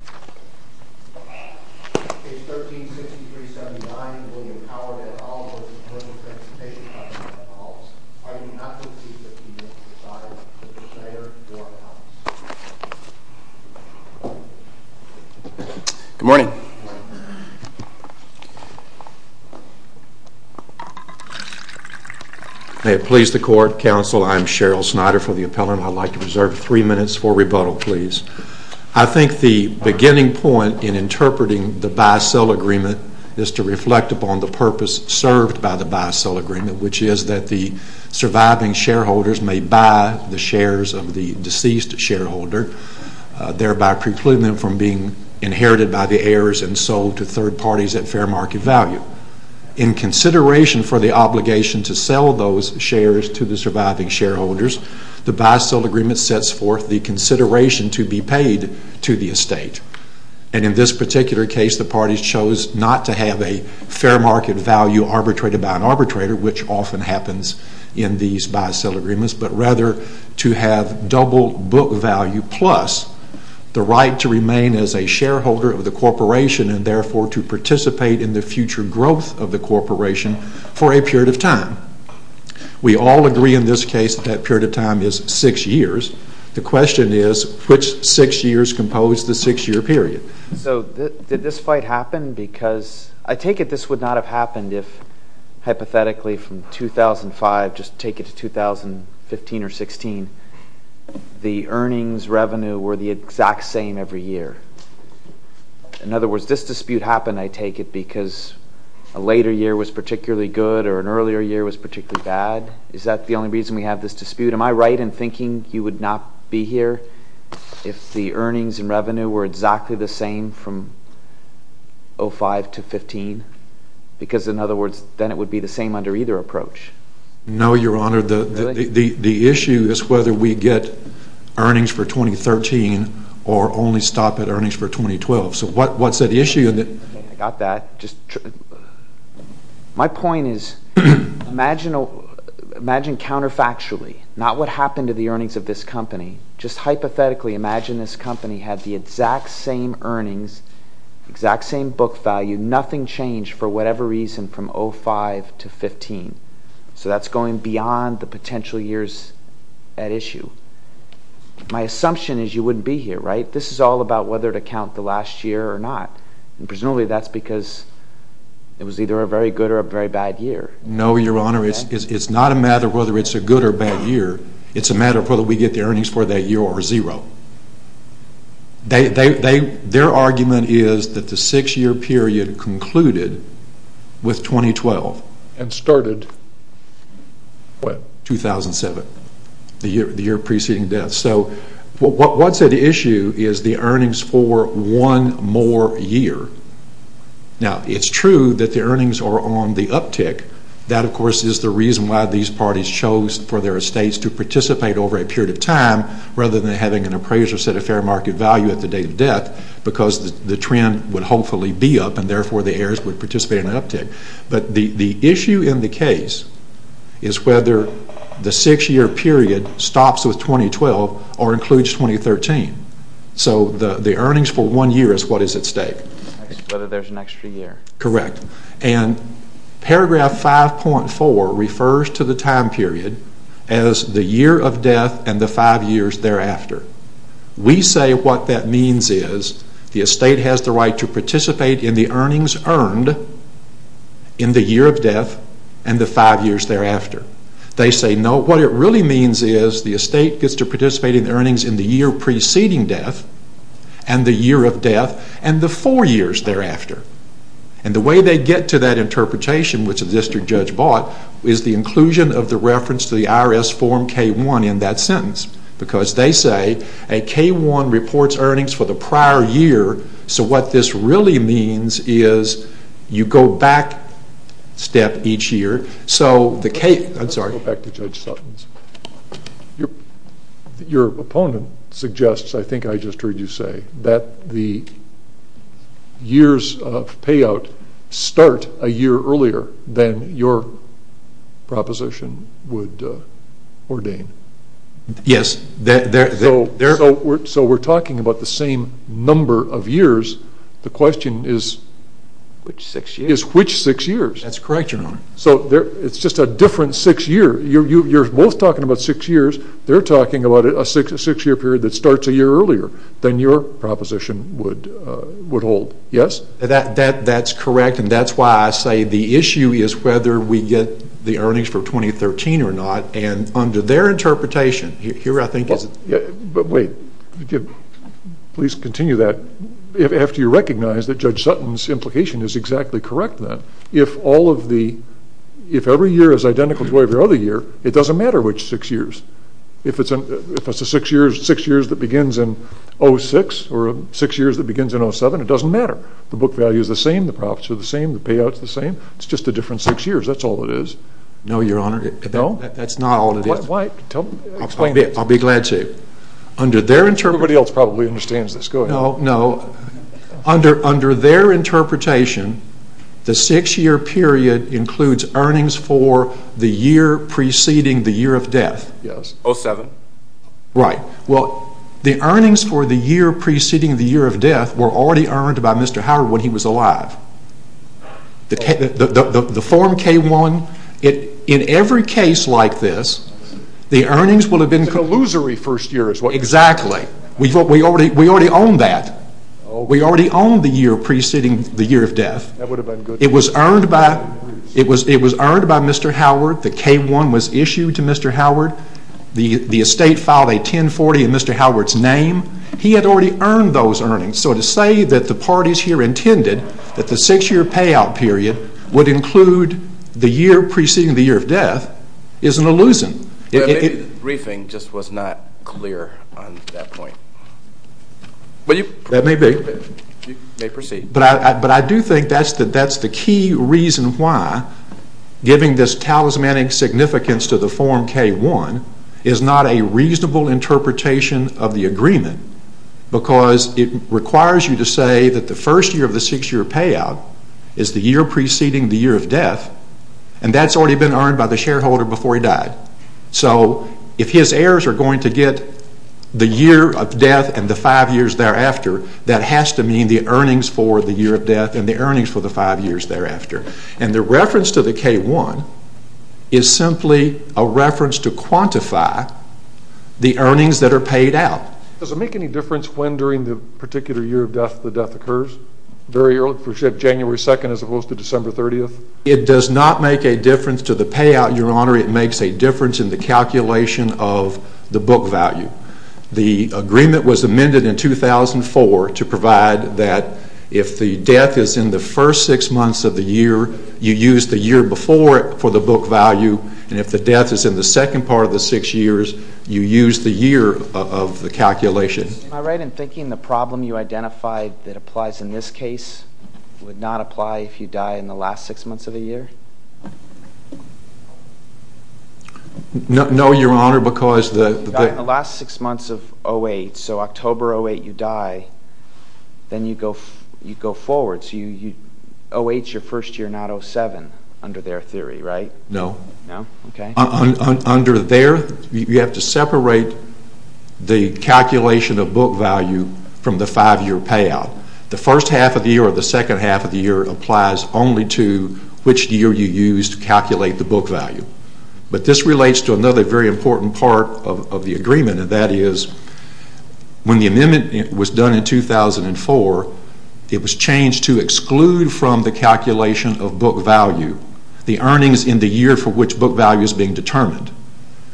Department of Health, are you not going to be 15 minutes presiding, Mr. Snyder, for the House? Good morning. May it please the court, counsel, I'm Sheryl Snyder for the appellant. I'd like to reserve three minutes for rebuttal, please. I think the beginning point in interpreting the buy-sell agreement is to reflect upon the purpose served by the buy-sell agreement, which is that the surviving shareholders may buy the shares of the deceased shareholder, thereby precluding them from being inherited by the heirs and sold to third parties at fair market value. In consideration for the obligation to sell those shares to the surviving shareholders, the buy-sell agreement sets forth the consideration to be paid to the estate. And in this particular case, the parties chose not to have a fair market value arbitrated by an arbitrator, which often happens in these buy-sell agreements, but rather to have double book value, plus the right to remain as a shareholder of the corporation, and therefore to participate in the future growth of the corporation for a period of time. We all agree in this case that that period of time is six years. The question is, which six years compose the six-year period? So did this fight happen? Because I take it this would not have happened if, hypothetically, from 2005, just take it to 2015 or 16, the earnings revenue were the exact same every year. In other words, this dispute happened, I take it, because a later year was particularly good or an earlier year was particularly bad? Is that the only reason we have this dispute? Am I right in thinking you would not be here if the earnings and revenue were exactly the same from 2005 to 2015? Because, in other words, then it would be the same under either approach. No, Your Honor. The issue is whether we get earnings for 2013 or only stop at earnings for 2012. So what is the issue? I got that. My point is, imagine counterfactually, not what happened to the earnings of this company, just hypothetically imagine this company had the exact same earnings, exact same book value, nothing changed for whatever reason from 2005 to 2015. So that is going beyond the potential years at issue. My assumption is you would not be here, right? This is all about whether to count the last year or not. Presumably that is because it was either a very good or a very bad year. No, Your Honor. It is not a matter of whether it is a good or bad year. It is a matter of whether we get the earnings for that year or zero. Their argument is that the six-year period concluded with 2012. And started what? 2007, the year preceding death. So what is at issue is the earnings for one more year. Now, it is true that the earnings are on the uptick. That, of course, is the reason why these parties chose for their estates to participate over a period of time rather than having an appraiser set a fair market value at the date of death because the trend would hopefully be up and therefore the heirs would participate in an uptick. But the issue in the case is whether the six-year period stops with 2012 or includes 2013. So the earnings for one year is what is at stake. Whether there is an extra year. Correct. And paragraph 5.4 refers to the time period as the year of death and the five years thereafter. We say what that means is the estate has the right to participate in the earnings earned in the year of death and the five years thereafter. They say no. What it really means is the estate gets to participate in the earnings in the year preceding death and the year of death and the four years thereafter. And the way they get to that interpretation, which the district judge bought, is the inclusion of the reference to the IRS form K-1 in that sentence because they say a K-1 reports earnings for the prior year. So what this really means is you go back a step each year. So the K- Let's go back to Judge Sutton's. Your opponent suggests, I think I just heard you say, that the years of payout start a year earlier than your proposition would ordain. Yes. So we're talking about the same number of years. The question is which six years. That's correct, Your Honor. So it's just a different six years. You're both talking about six years. They're talking about a six-year period that starts a year earlier than your proposition would hold. Yes? That's correct, and that's why I say the issue is whether we get the earnings for 2013 or not. And under their interpretation, here I think is- But wait. Please continue that after you recognize that Judge Sutton's implication is exactly correct then. If every year is identical to every other year, it doesn't matter which six years. If it's a six years that begins in 2006 or a six years that begins in 2007, it doesn't matter. The book value is the same. The profits are the same. The payout is the same. It's just a different six years. That's all it is. No, Your Honor. No? That's not all it is. Why? Explain it. I'll be glad to. Under their interpretation- Everybody else probably understands this. Go ahead. Under their interpretation, the six year period includes earnings for the year preceding the year of death. Yes. 07. Right. Well, the earnings for the year preceding the year of death were already earned by Mr. Howard when he was alive. The form K-1, in every case like this, the earnings will have been- It's an illusory first year as well. Exactly. We already own that. We already own the year preceding the year of death. It was earned by Mr. Howard. The K-1 was issued to Mr. Howard. The estate filed a 1040 in Mr. Howard's name. He had already earned those earnings. So to say that the parties here intended that the six year payout period would include the year preceding the year of death is an illusion. Maybe the briefing just was not clear on that point. That may be. You may proceed. But I do think that's the key reason why giving this talismanic significance to the form K-1 is not a reasonable interpretation of the agreement because it requires you to say that the first year of the six year payout is the year preceding the year of death and that's already been earned by the shareholder before he died. So if his heirs are going to get the year of death and the five years thereafter, that has to mean the earnings for the year of death and the earnings for the five years thereafter. And the reference to the K-1 is simply a reference to quantify the earnings that are paid out. Does it make any difference when during the particular year of death the death occurs? January 2nd as opposed to December 30th? It does not make a difference to the payout, Your Honor. It makes a difference in the calculation of the book value. The agreement was amended in 2004 to provide that if the death is in the first six months of the year, you use the year before it for the book value. And if the death is in the second part of the six years, you use the year of the calculation. Am I right in thinking the problem you identified that applies in this case would not apply if you die in the last six months of the year? No, Your Honor, because the... If you die in the last six months of 08, so October 08 you die, then you go forward. So 08 is your first year, not 07 under their theory, right? No. No? Okay. Under there, you have to separate the calculation of book value from the five-year payout. The first half of the year or the second half of the year applies only to which year you use to calculate the book value. But this relates to another very important part of the agreement, and that is when the amendment was done in 2004, it was changed to exclude from the calculation of book value the earnings in the year for which book value is being determined.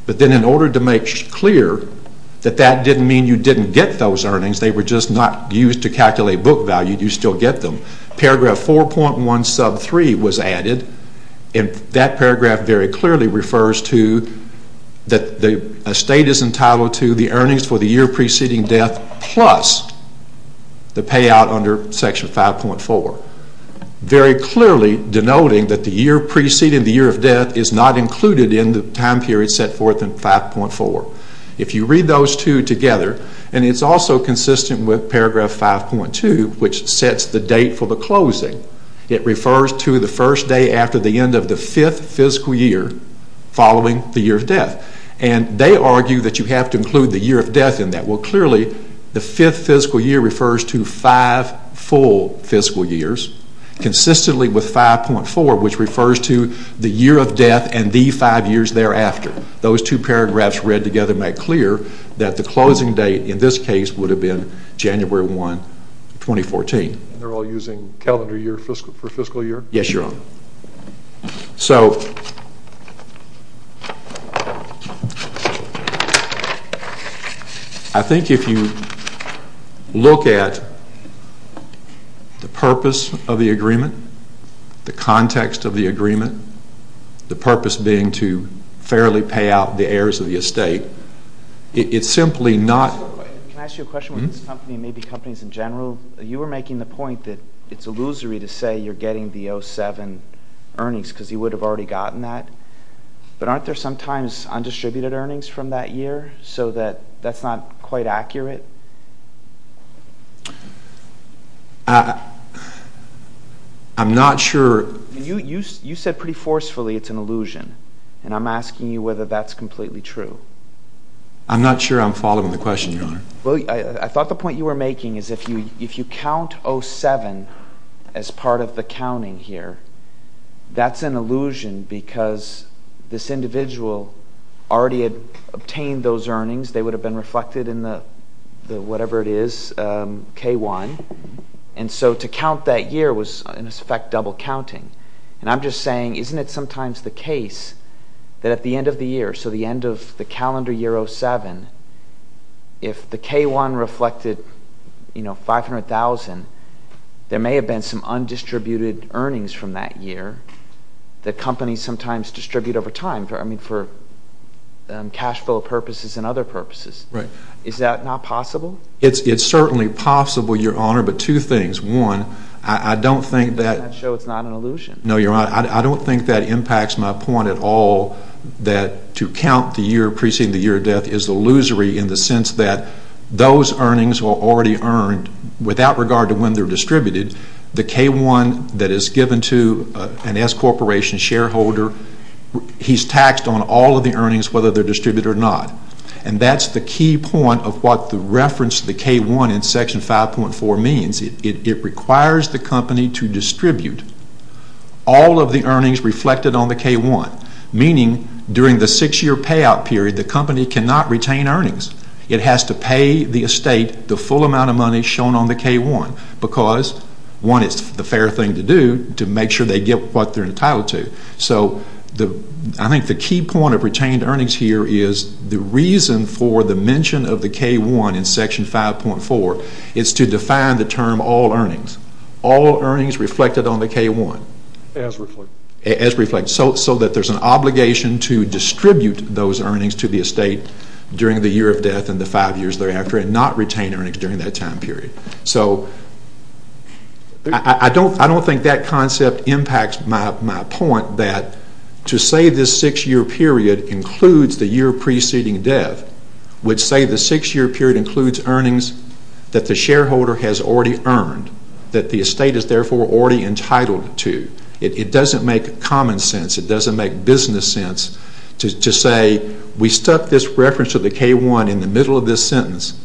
But then in order to make clear that that didn't mean you didn't get those earnings, they were just not used to calculate book value, you still get them, paragraph 4.1 sub 3 was added, and that paragraph very clearly refers to that a state is entitled to the earnings for the year preceding death plus the payout under section 5.4, very clearly denoting that the year preceding the year of death is not included in the time period set forth in 5.4. If you read those two together, and it's also consistent with paragraph 5.2, which sets the date for the closing, it refers to the first day after the end of the fifth fiscal year following the year of death. And they argue that you have to include the year of death in that. Well, clearly, the fifth fiscal year refers to five full fiscal years, consistently with 5.4, which refers to the year of death and the five years thereafter. Those two paragraphs read together make clear that the closing date in this case would have been January 1, 2014. And they're all using calendar year for fiscal year? Yes, Your Honor. So I think if you look at the purpose of the agreement, the context of the agreement, the purpose being to fairly pay out the heirs of the estate, it's simply not... Can I ask you a question? With this company and maybe companies in general, you were making the point that it's illusory to say you're getting the 07 earnings because you would have already gotten that. But aren't there sometimes undistributed earnings from that year so that that's not quite accurate? I'm not sure. You said pretty forcefully it's an illusion, and I'm asking you whether that's completely true. I'm not sure I'm following the question, Your Honor. Well, I thought the point you were making is if you count 07 as part of the counting here, that's an illusion because this individual already had obtained those earnings. They would have been reflected in the whatever it is, K-1. And so to count that year was, in effect, double counting. And I'm just saying isn't it sometimes the case that at the end of the year, so the end of the calendar year 07, if the K-1 reflected 500,000, there may have been some undistributed earnings from that year that companies sometimes distribute over time for cash flow purposes and other purposes. Is that not possible? It's certainly possible, Your Honor, but two things. One, I don't think that... So it's not an illusion? No, Your Honor. I don't think that impacts my point at all that to count the year preceding the year of death is illusory in the sense that those earnings were already earned without regard to when they're distributed. The K-1 that is given to an S Corporation shareholder, he's taxed on all of the earnings whether they're distributed or not. And that's the key point of what the reference to the K-1 in Section 5.4 means. It requires the company to distribute all of the earnings reflected on the K-1, meaning during the six-year payout period the company cannot retain earnings. It has to pay the estate the full amount of money shown on the K-1 because, one, it's the fair thing to do to make sure they get what they're entitled to. So I think the key point of retained earnings here is the reason for the mention of the K-1 in Section 5.4. It's to define the term all earnings, all earnings reflected on the K-1. As reflected. As reflected, so that there's an obligation to distribute those earnings to the estate during the year of death and the five years thereafter and not retain earnings during that time period. So I don't think that concept impacts my point that to say this six-year period includes the year preceding death would say the six-year period includes earnings that the shareholder has already earned, that the estate is therefore already entitled to. It doesn't make common sense. It doesn't make business sense to say we stuck this reference to the K-1 in the middle of this sentence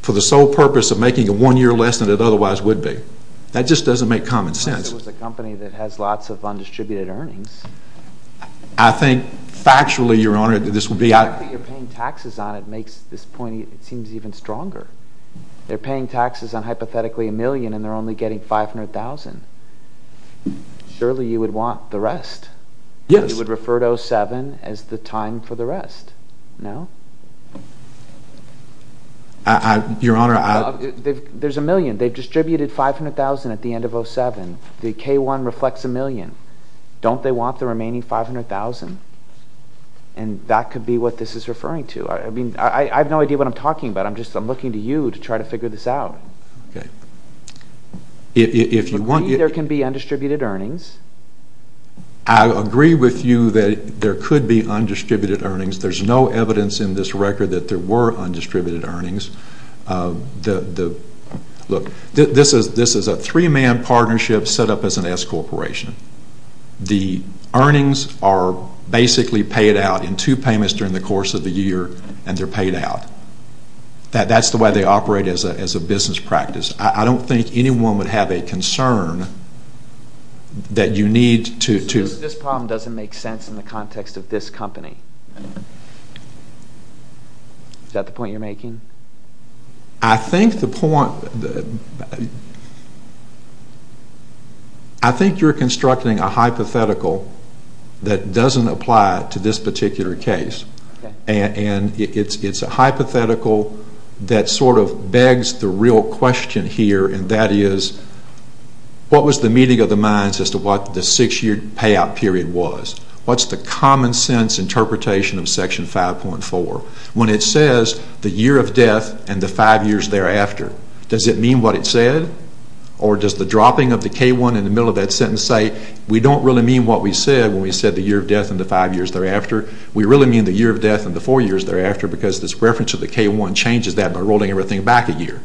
for the sole purpose of making it one year less than it otherwise would be. That just doesn't make common sense. Unless it was a company that has lots of undistributed earnings. I think factually, Your Honor, this would be out... The fact that you're paying taxes on it makes this point, it seems even stronger. They're paying taxes on hypothetically a million and they're only getting $500,000. Surely you would want the rest. Yes. You would refer to 07 as the time for the rest. No? Your Honor, I... There's a million. They've distributed $500,000 at the end of 07. The K-1 reflects a million. Don't they want the remaining $500,000? And that could be what this is referring to. I mean, I have no idea what I'm talking about. I'm just looking to you to try to figure this out. Okay. If you want... There can be undistributed earnings. I agree with you that there could be undistributed earnings. There's no evidence in this record that there were undistributed earnings. The... Look, this is a three-man partnership set up as an S-corporation. The earnings are basically paid out in two payments during the course of the year and they're paid out. That's the way they operate as a business practice. I don't think anyone would have a concern that you need to... This problem doesn't make sense in the context of this company. Is that the point you're making? I think the point... I think you're constructing a hypothetical that doesn't apply to this particular case. Okay. And it's a hypothetical that sort of begs the real question here, and that is, what was the meeting of the minds as to what the six-year payout period was? What's the common sense interpretation of Section 5.4? When it says the year of death and the five years thereafter, does it mean what it said? Or does the dropping of the K-1 in the middle of that sentence say, we don't really mean what we said when we said the year of death and the five years thereafter. We really mean the year of death and the four years thereafter because this reference to the K-1 changes that by rolling everything back a year.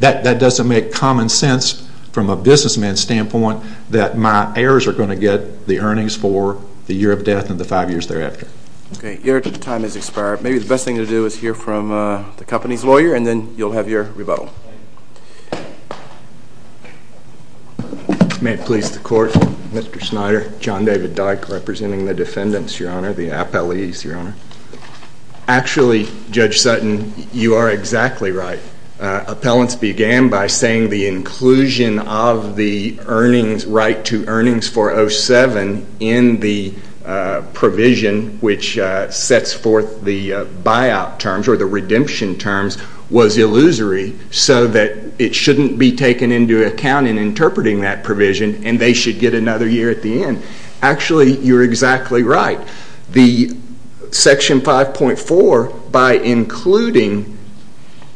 That doesn't make common sense from a businessman's standpoint that my heirs are going to get the earnings for the year of death and the five years thereafter. Okay. Your time has expired. Maybe the best thing to do is hear from the company's lawyer, and then you'll have your rebuttal. May it please the Court. Mr. Snyder. John David Dyke, representing the defendants, Your Honor, the appellees, Your Honor. Actually, Judge Sutton, you are exactly right. Appellants began by saying the inclusion of the right to earnings for 07 in the provision which sets forth the buyout terms or the redemption terms was illusory so that it shouldn't be taken into account in interpreting that provision, and they should get another year at the end. Actually, you're exactly right. Section 5.4, by including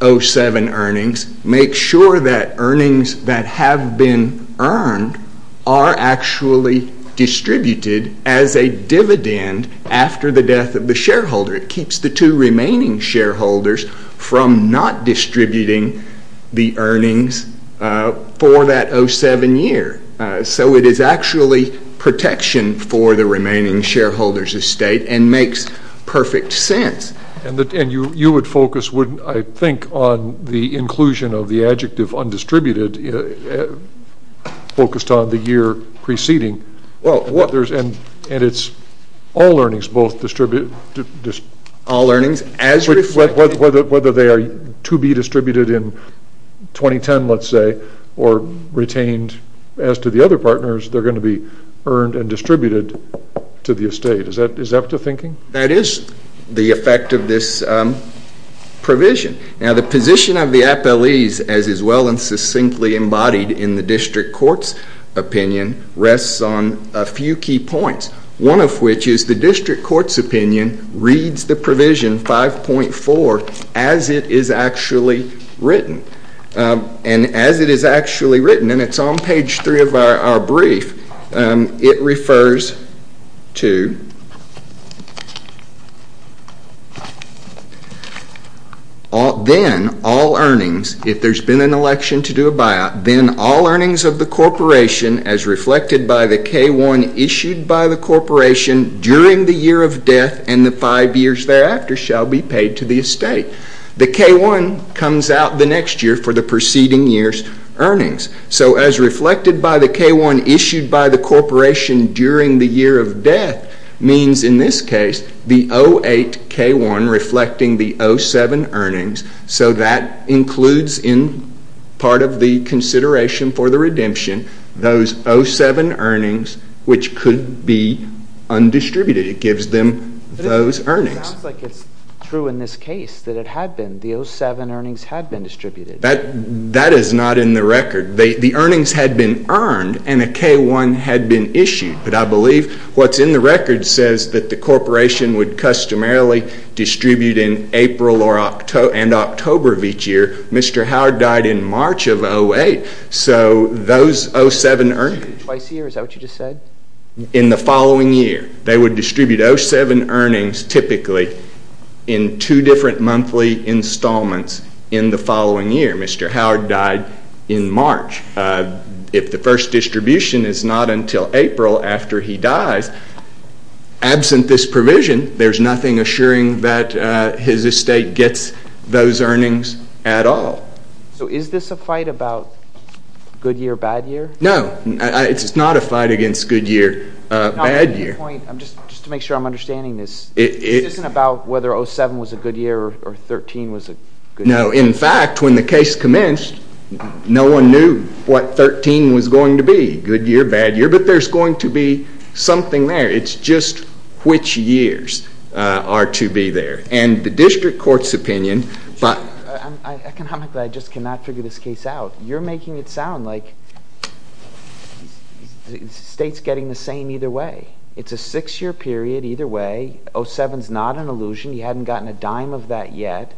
07 earnings, makes sure that earnings that have been earned are actually distributed as a dividend after the death of the shareholder. It keeps the two remaining shareholders from not distributing the earnings for that 07 year. So it is actually protection for the remaining shareholders' estate and makes perfect sense. And you would focus, I think, on the inclusion of the adjective undistributed, focused on the year preceding. And it's all earnings both distributed. All earnings as redistributed. Whether they are to be distributed in 2010, let's say, or retained as to the other partners, they're going to be earned and distributed to the estate. Is that what you're thinking? That is the effect of this provision. Now, the position of the appellees, as is well and succinctly embodied in the district court's opinion, rests on a few key points, one of which is the district court's opinion reads the provision 5.4 as it is actually written. And as it is actually written, and it's on page 3 of our brief, it refers to then all earnings, if there's been an election to do a buyout, then all earnings of the corporation as reflected by the K-1 issued by the corporation during the year of death and the five years thereafter shall be paid to the estate. The K-1 comes out the next year for the preceding year's earnings. So as reflected by the K-1 issued by the corporation during the year of death means, in this case, the 08 K-1 reflecting the 07 earnings. So that includes in part of the consideration for the redemption those 07 earnings which could be undistributed. It gives them those earnings. It sounds like it's true in this case that it had been, the 07 earnings had been distributed. That is not in the record. The earnings had been earned and a K-1 had been issued. But I believe what's in the record says that the corporation would customarily distribute in April and October of each year. Mr. Howard died in March of 08. So those 07 earnings. Twice a year, is that what you just said? In the following year. They would distribute 07 earnings typically in two different monthly installments in the following year. Mr. Howard died in March. If the first distribution is not until April after he dies, absent this provision, there's nothing assuring that his estate gets those earnings at all. So is this a fight about good year, bad year? No. It's not a fight against good year, bad year. Just to make sure I'm understanding this. This isn't about whether 07 was a good year or 13 was a good year. No. In fact, when the case commenced, no one knew what 13 was going to be. Good year, bad year. But there's going to be something there. It's just which years are to be there. And the district court's opinion. Economically, I just cannot figure this case out. You're making it sound like the state's getting the same either way. It's a six-year period either way. 07's not an illusion. You hadn't gotten a dime of that yet.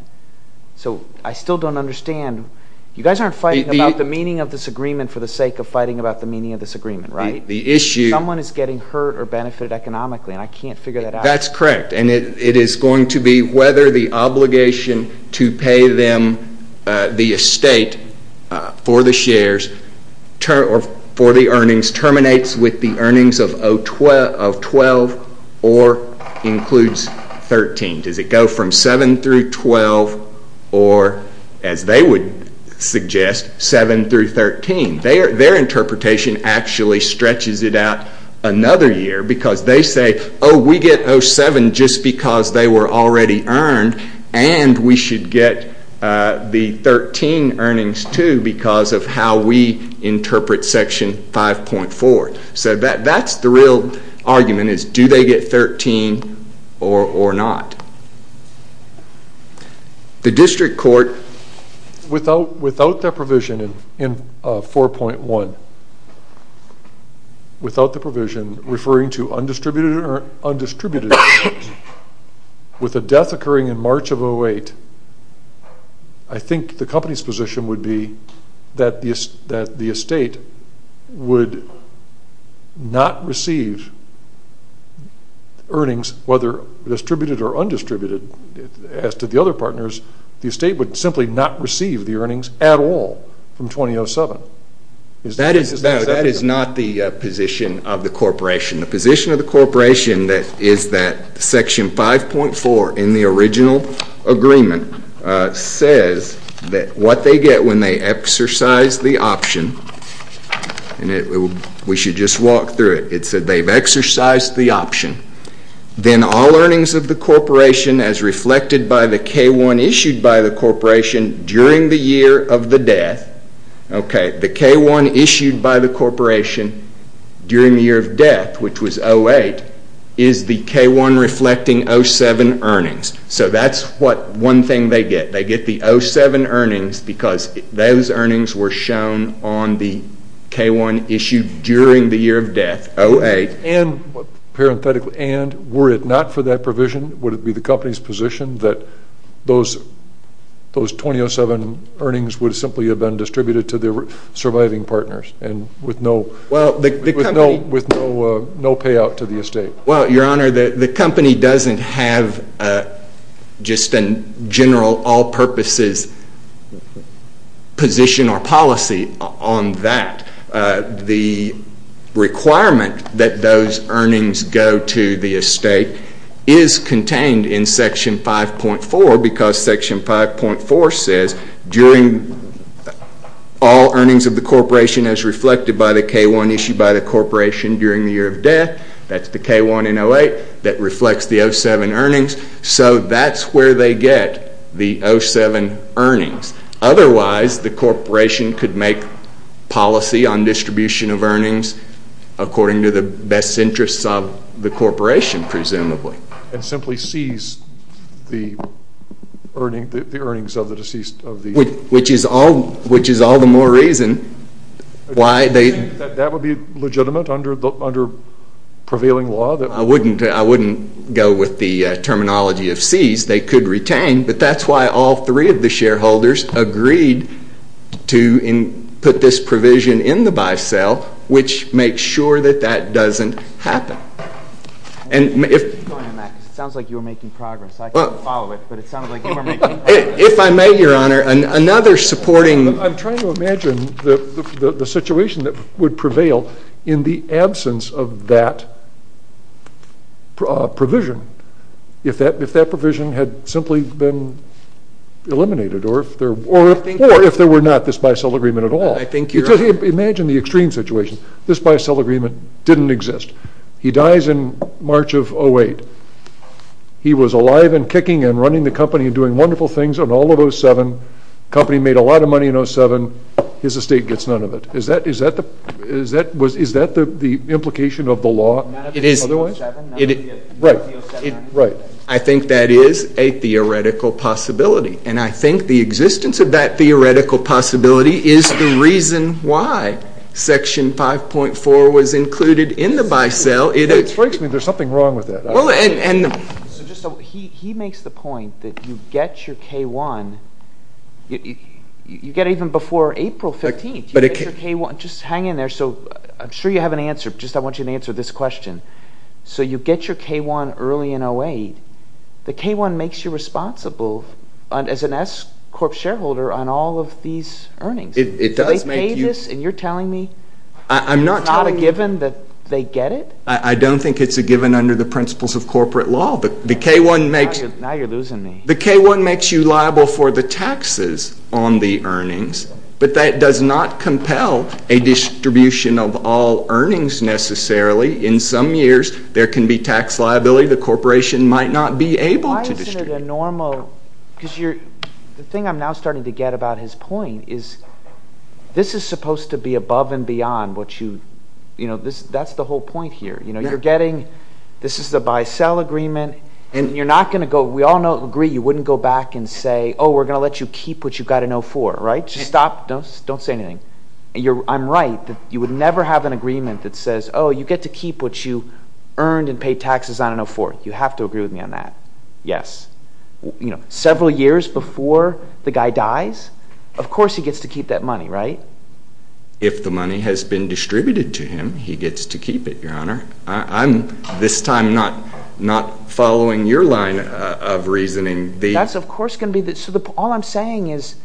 So I still don't understand. You guys aren't fighting about the meaning of this agreement for the sake of fighting about the meaning of this agreement, right? The issue. Someone is getting hurt or benefited economically, and I can't figure that out. That's correct. And it is going to be whether the obligation to pay them the estate for the shares or for the earnings terminates with the earnings of 12 or includes 13. Does it go from 7 through 12 or, as they would suggest, 7 through 13? Their interpretation actually stretches it out another year because they say, oh, we get 07 just because they were already earned, and we should get the 13 earnings too because of how we interpret Section 5.4. So that's the real argument is do they get 13 or not? The district court, without their provision in 4.1, without the provision referring to undistributed earnings, with a death occurring in March of 08, I think the company's position would be that the estate would not receive earnings, whether distributed or undistributed. As to the other partners, the estate would simply not receive the earnings at all from 2007. That is not the position of the corporation. The position of the corporation is that Section 5.4 in the original agreement says that what they get when they exercise the option, and we should just walk through it, it said they've exercised the option, then all earnings of the corporation as reflected by the K-1 issued by the corporation during the year of the death. The K-1 issued by the corporation during the year of death, which was 08, is the K-1 reflecting 07 earnings. So that's one thing they get. They get the 07 earnings because those earnings were shown on the K-1 issued during the year of death, 08. And were it not for that provision, would it be the company's position that those 2007 earnings would simply have been distributed to the surviving partners, with no payout to the estate? Well, Your Honor, the company doesn't have just a general all-purposes position or policy on that. The requirement that those earnings go to the estate is contained in Section 5.4 because Section 5.4 says during all earnings of the corporation as reflected by the K-1 issued by the corporation during the year of death. That's the K-1 in 08 that reflects the 07 earnings. So that's where they get the 07 earnings. Otherwise, the corporation could make policy on distribution of earnings according to the best interests of the corporation, presumably. And simply seize the earnings of the deceased? Which is all the more reason why they... Do you think that would be legitimate under prevailing law? I wouldn't go with the terminology of seize. They could retain, but that's why all three of the shareholders agreed to put this provision in the by-sale, which makes sure that that doesn't happen. It sounds like you were making progress. I couldn't follow it, but it sounded like you were making progress. If I may, Your Honor, another supporting... I'm trying to imagine the situation that would prevail in the absence of that provision if that provision had simply been eliminated or if there were not this by-sale agreement at all. Imagine the extreme situation. This by-sale agreement didn't exist. He dies in March of 08. He was alive and kicking and running the company and doing wonderful things on all of 07. The company made a lot of money in 07. His estate gets none of it. Is that the implication of the law otherwise? It is. Right. Right. I think that is a theoretical possibility, and I think the existence of that theoretical possibility is the reason why Section 5.4 was included in the by-sale. It strikes me there's something wrong with that. He makes the point that you get your K-1. You get it even before April 15th. You get your K-1. Just hang in there. So I'm sure you have an answer. I just want you to answer this question. So you get your K-1 early in 08. The K-1 makes you responsible as an S Corp shareholder on all of these earnings. They pay this, and you're telling me it's not a given that they get it? I don't think it's a given under the principles of corporate law. Now you're losing me. The K-1 makes you liable for the taxes on the earnings, but that does not compel a distribution of all earnings necessarily. In some years, there can be tax liability the corporation might not be able to distribute. The thing I'm now starting to get about his point is this is supposed to be above and beyond what you – that's the whole point here. You're getting – this is the by-sale agreement, and you're not going to go – we all agree you wouldn't go back and say, oh, we're going to let you keep what you got in 04, right? Just stop. Don't say anything. I'm right. You would never have an agreement that says, oh, you get to keep what you earned and pay taxes on in 04. You have to agree with me on that. Yes. Several years before the guy dies, of course he gets to keep that money, right? If the money has been distributed to him, he gets to keep it, Your Honor. I'm this time not following your line of reasoning. That's of course going to be – so all I'm saying is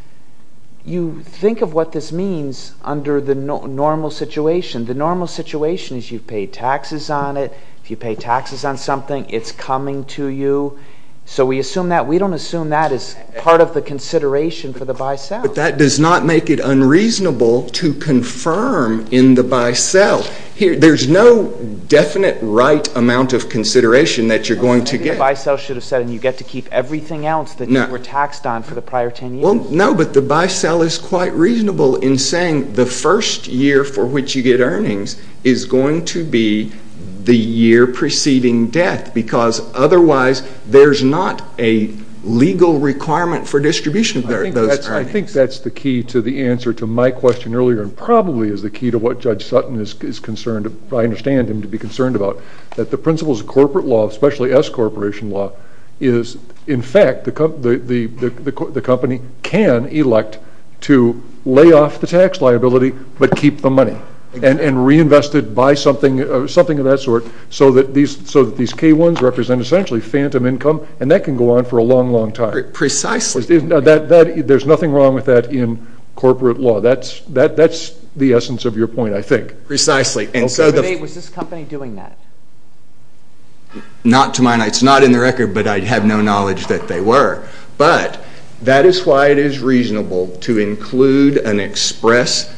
you think of what this means under the normal situation. The normal situation is you've paid taxes on it. If you pay taxes on something, it's coming to you. So we assume that – we don't assume that is part of the consideration for the by-sale. But that does not make it unreasonable to confirm in the by-sale. There's no definite right amount of consideration that you're going to get. Maybe the by-sale should have said you get to keep everything else that you were taxed on for the prior 10 years. Well, no, but the by-sale is quite reasonable in saying the first year for which you get earnings is going to be the year preceding death because otherwise there's not a legal requirement for distribution of those earnings. I think that's the key to the answer to my question earlier and probably is the key to what Judge Sutton is concerned – I understand him to be concerned about, that the principles of corporate law, especially S-corporation law, is in fact the company can elect to lay off the tax liability but keep the money and reinvest it, buy something of that sort so that these K-1s represent essentially phantom income and that can go on for a long, long time. Precisely. There's nothing wrong with that in corporate law. That's the essence of your point, I think. Precisely. Okay. Was this company doing that? Not to my knowledge. It's not in the record, but I have no knowledge that they were. But that is why it is reasonable to include an express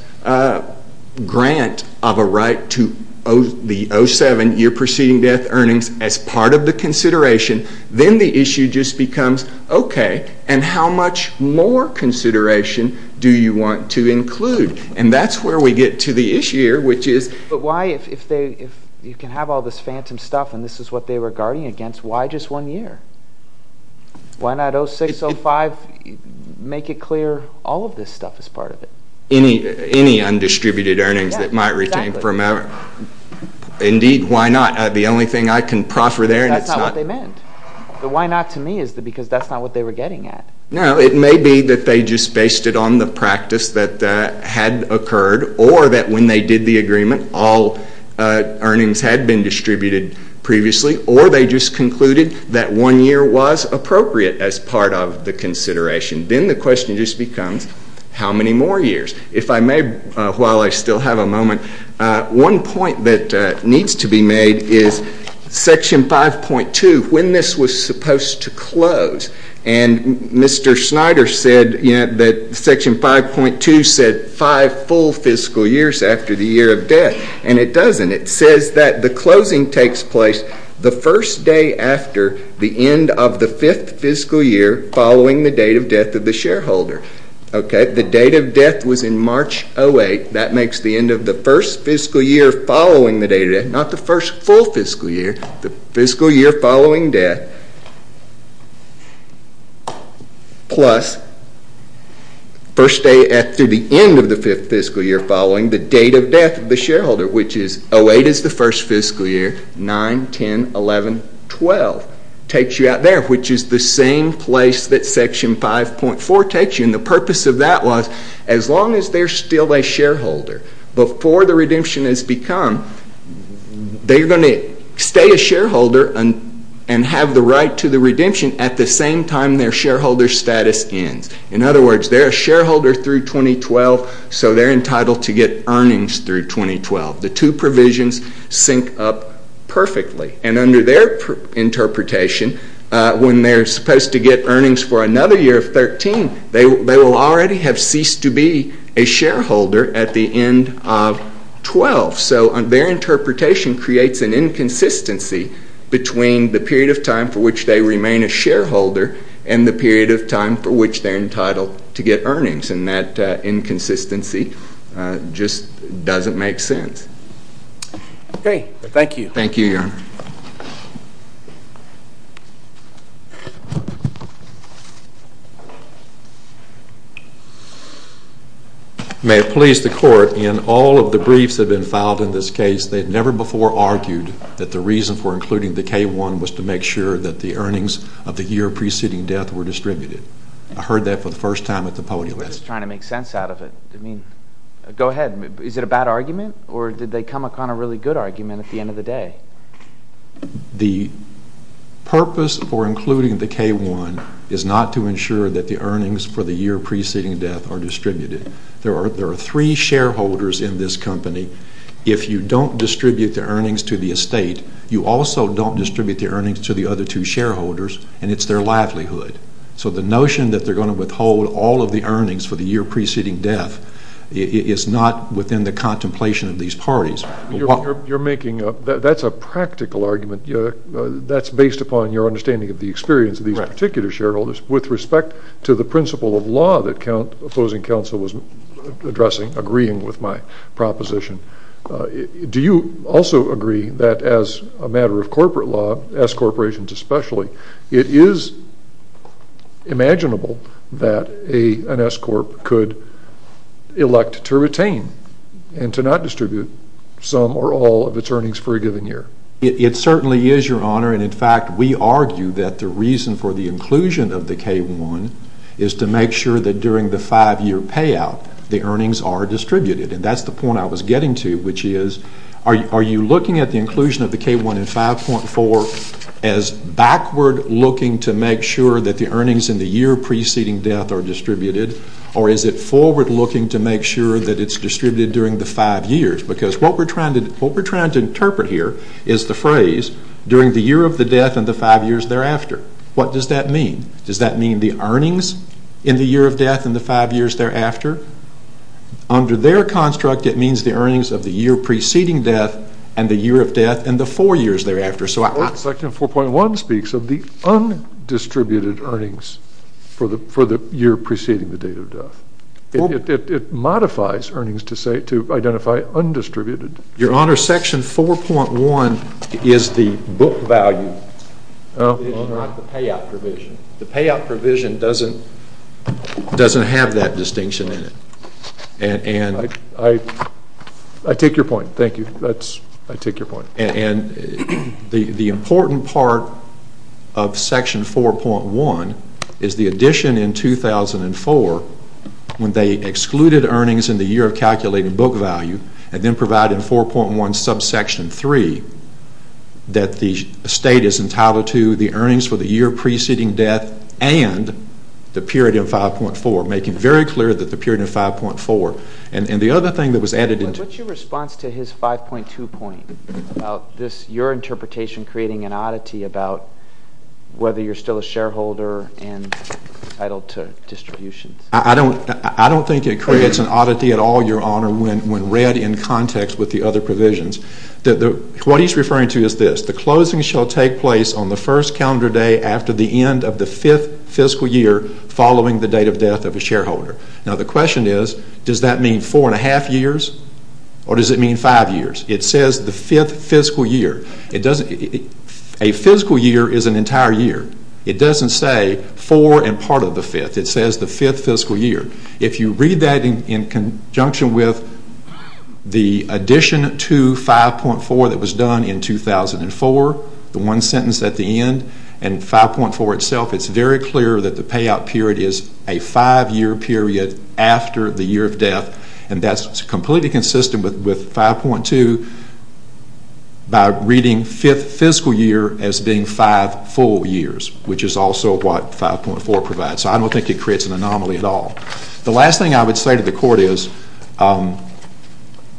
grant of a right to the 07 year preceding death earnings as part of the consideration. Then the issue just becomes, okay, and how much more consideration do you want to include? And that's where we get to the issue here, which is – But why, if you can have all this phantom stuff and this is what they were guarding against, why just one year? Why not 06, 05? Make it clear all of this stuff is part of it. Any undistributed earnings that might retain from – Exactly. Indeed, why not? The only thing I can proffer there – That's not what they meant. The why not to me is because that's not what they were getting at. No, it may be that they just based it on the practice that had occurred or that when they did the agreement all earnings had been distributed previously or they just concluded that one year was appropriate as part of the consideration. Then the question just becomes, how many more years? If I may, while I still have a moment, one point that needs to be made is Section 5.2, when this was supposed to close. Mr. Snyder said that Section 5.2 said five full fiscal years after the year of death. It doesn't. It says that the closing takes place the first day after the end of the fifth fiscal year following the date of death of the shareholder. The date of death was in March 08. That makes the end of the first fiscal year following the date of death. Not the first full fiscal year, the fiscal year following death plus the first day after the end of the fifth fiscal year following the date of death of the shareholder, which is 08 is the first fiscal year, 9, 10, 11, 12. It takes you out there, which is the same place that Section 5.4 takes you. The purpose of that was as long as they're still a shareholder, before the redemption has become, they're going to stay a shareholder and have the right to the redemption at the same time their shareholder status ends. In other words, they're a shareholder through 2012, so they're entitled to get earnings through 2012. The two provisions sync up perfectly. And under their interpretation, when they're supposed to get earnings for another year of 13, they will already have ceased to be a shareholder at the end of 12. So their interpretation creates an inconsistency between the period of time for which they remain a shareholder and the period of time for which they're entitled to get earnings. And that inconsistency just doesn't make sense. Okay, thank you. Thank you, Your Honor. May it please the Court, in all of the briefs that have been filed in this case, they've never before argued that the reason for including the K-1 was to make sure that the earnings of the year preceding death were distributed. I heard that for the first time at the podium. We're just trying to make sense out of it. I mean, go ahead. Is it a bad argument, or did they come upon a really good argument at the end of the day? The purpose for including the K-1 is not to ensure that the earnings for the year preceding death are distributed. There are three shareholders in this company. If you don't distribute the earnings to the estate, you also don't distribute the earnings to the other two shareholders, and it's their livelihood. So the notion that they're going to withhold all of the earnings for the year preceding death is not within the contemplation of these parties. You're making a – that's a practical argument. That's based upon your understanding of the experience of these particular shareholders with respect to the principle of law that opposing counsel was addressing, agreeing with my proposition. Do you also agree that as a matter of corporate law, S corporations especially, it is imaginable that an S corp could elect to retain and to not distribute some or all of its earnings for a given year? It certainly is, Your Honor, and in fact we argue that the reason for the inclusion of the K-1 is to make sure that during the five-year payout the earnings are distributed, and that's the point I was getting to, which is are you looking at the inclusion of the K-1 in 5.4 as backward looking to make sure that the earnings in the year preceding death are distributed, or is it forward looking to make sure that it's distributed during the five years? Because what we're trying to interpret here is the phrase during the year of the death and the five years thereafter. What does that mean? Does that mean the earnings in the year of death and the five years thereafter? Under their construct it means the earnings of the year preceding death and the year of death and the four years thereafter. Section 4.1 speaks of the undistributed earnings for the year preceding the date of death. It modifies earnings to identify undistributed. Your Honor, Section 4.1 is the book value provision, not the payout provision. The payout provision doesn't have that distinction in it. I take your point. Thank you. I take your point. And the important part of Section 4.1 is the addition in 2004 when they excluded earnings in the year of calculating book value and then provided in 4.1 subsection 3 that the state is entitled to the earnings for the year preceding death and the period of 5.4, making very clear that the period of 5.4. And the other thing that was added... What's your response to his 5.2 point about this, your interpretation creating an oddity about whether you're still a shareholder and entitled to distributions? I don't think it creates an oddity at all, Your Honor, when read in context with the other provisions. What he's referring to is this, the closing shall take place on the first calendar day after the end of the fifth fiscal year following the date of death of a shareholder. Now the question is, does that mean four and a half years or does it mean five years? It says the fifth fiscal year. A fiscal year is an entire year. It doesn't say four and part of the fifth. It says the fifth fiscal year. If you read that in conjunction with the addition to 5.4 that was done in 2004, the one sentence at the end, and 5.4 itself, it's very clear that the payout period is a five-year period after the year of death. And that's completely consistent with 5.2 by reading fifth fiscal year as being five full years, which is also what 5.4 provides. So I don't think it creates an anomaly at all. The last thing I would say to the Court is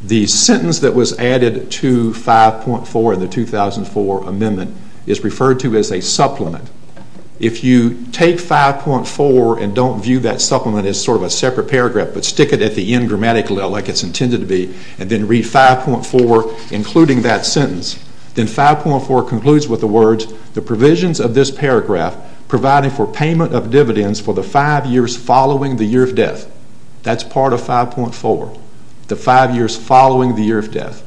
the sentence that was added to 5.4 in the 2004 amendment is referred to as a supplement. If you take 5.4 and don't view that supplement as sort of a separate paragraph but stick it at the end grammatically like it's intended to be and then read 5.4 including that sentence, then 5.4 concludes with the words, the provisions of this paragraph providing for payment of dividends for the five years following the year of death. That's part of 5.4, the five years following the year of death.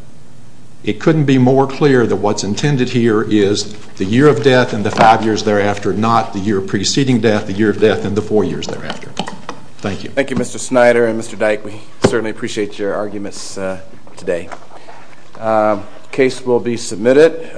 It couldn't be more clear that what's intended here is the year of death and the five years thereafter, not the year preceding death, the year of death, and the four years thereafter. Thank you. Thank you, Mr. Snyder and Mr. Dyke. We certainly appreciate your arguments today. The case will be submitted.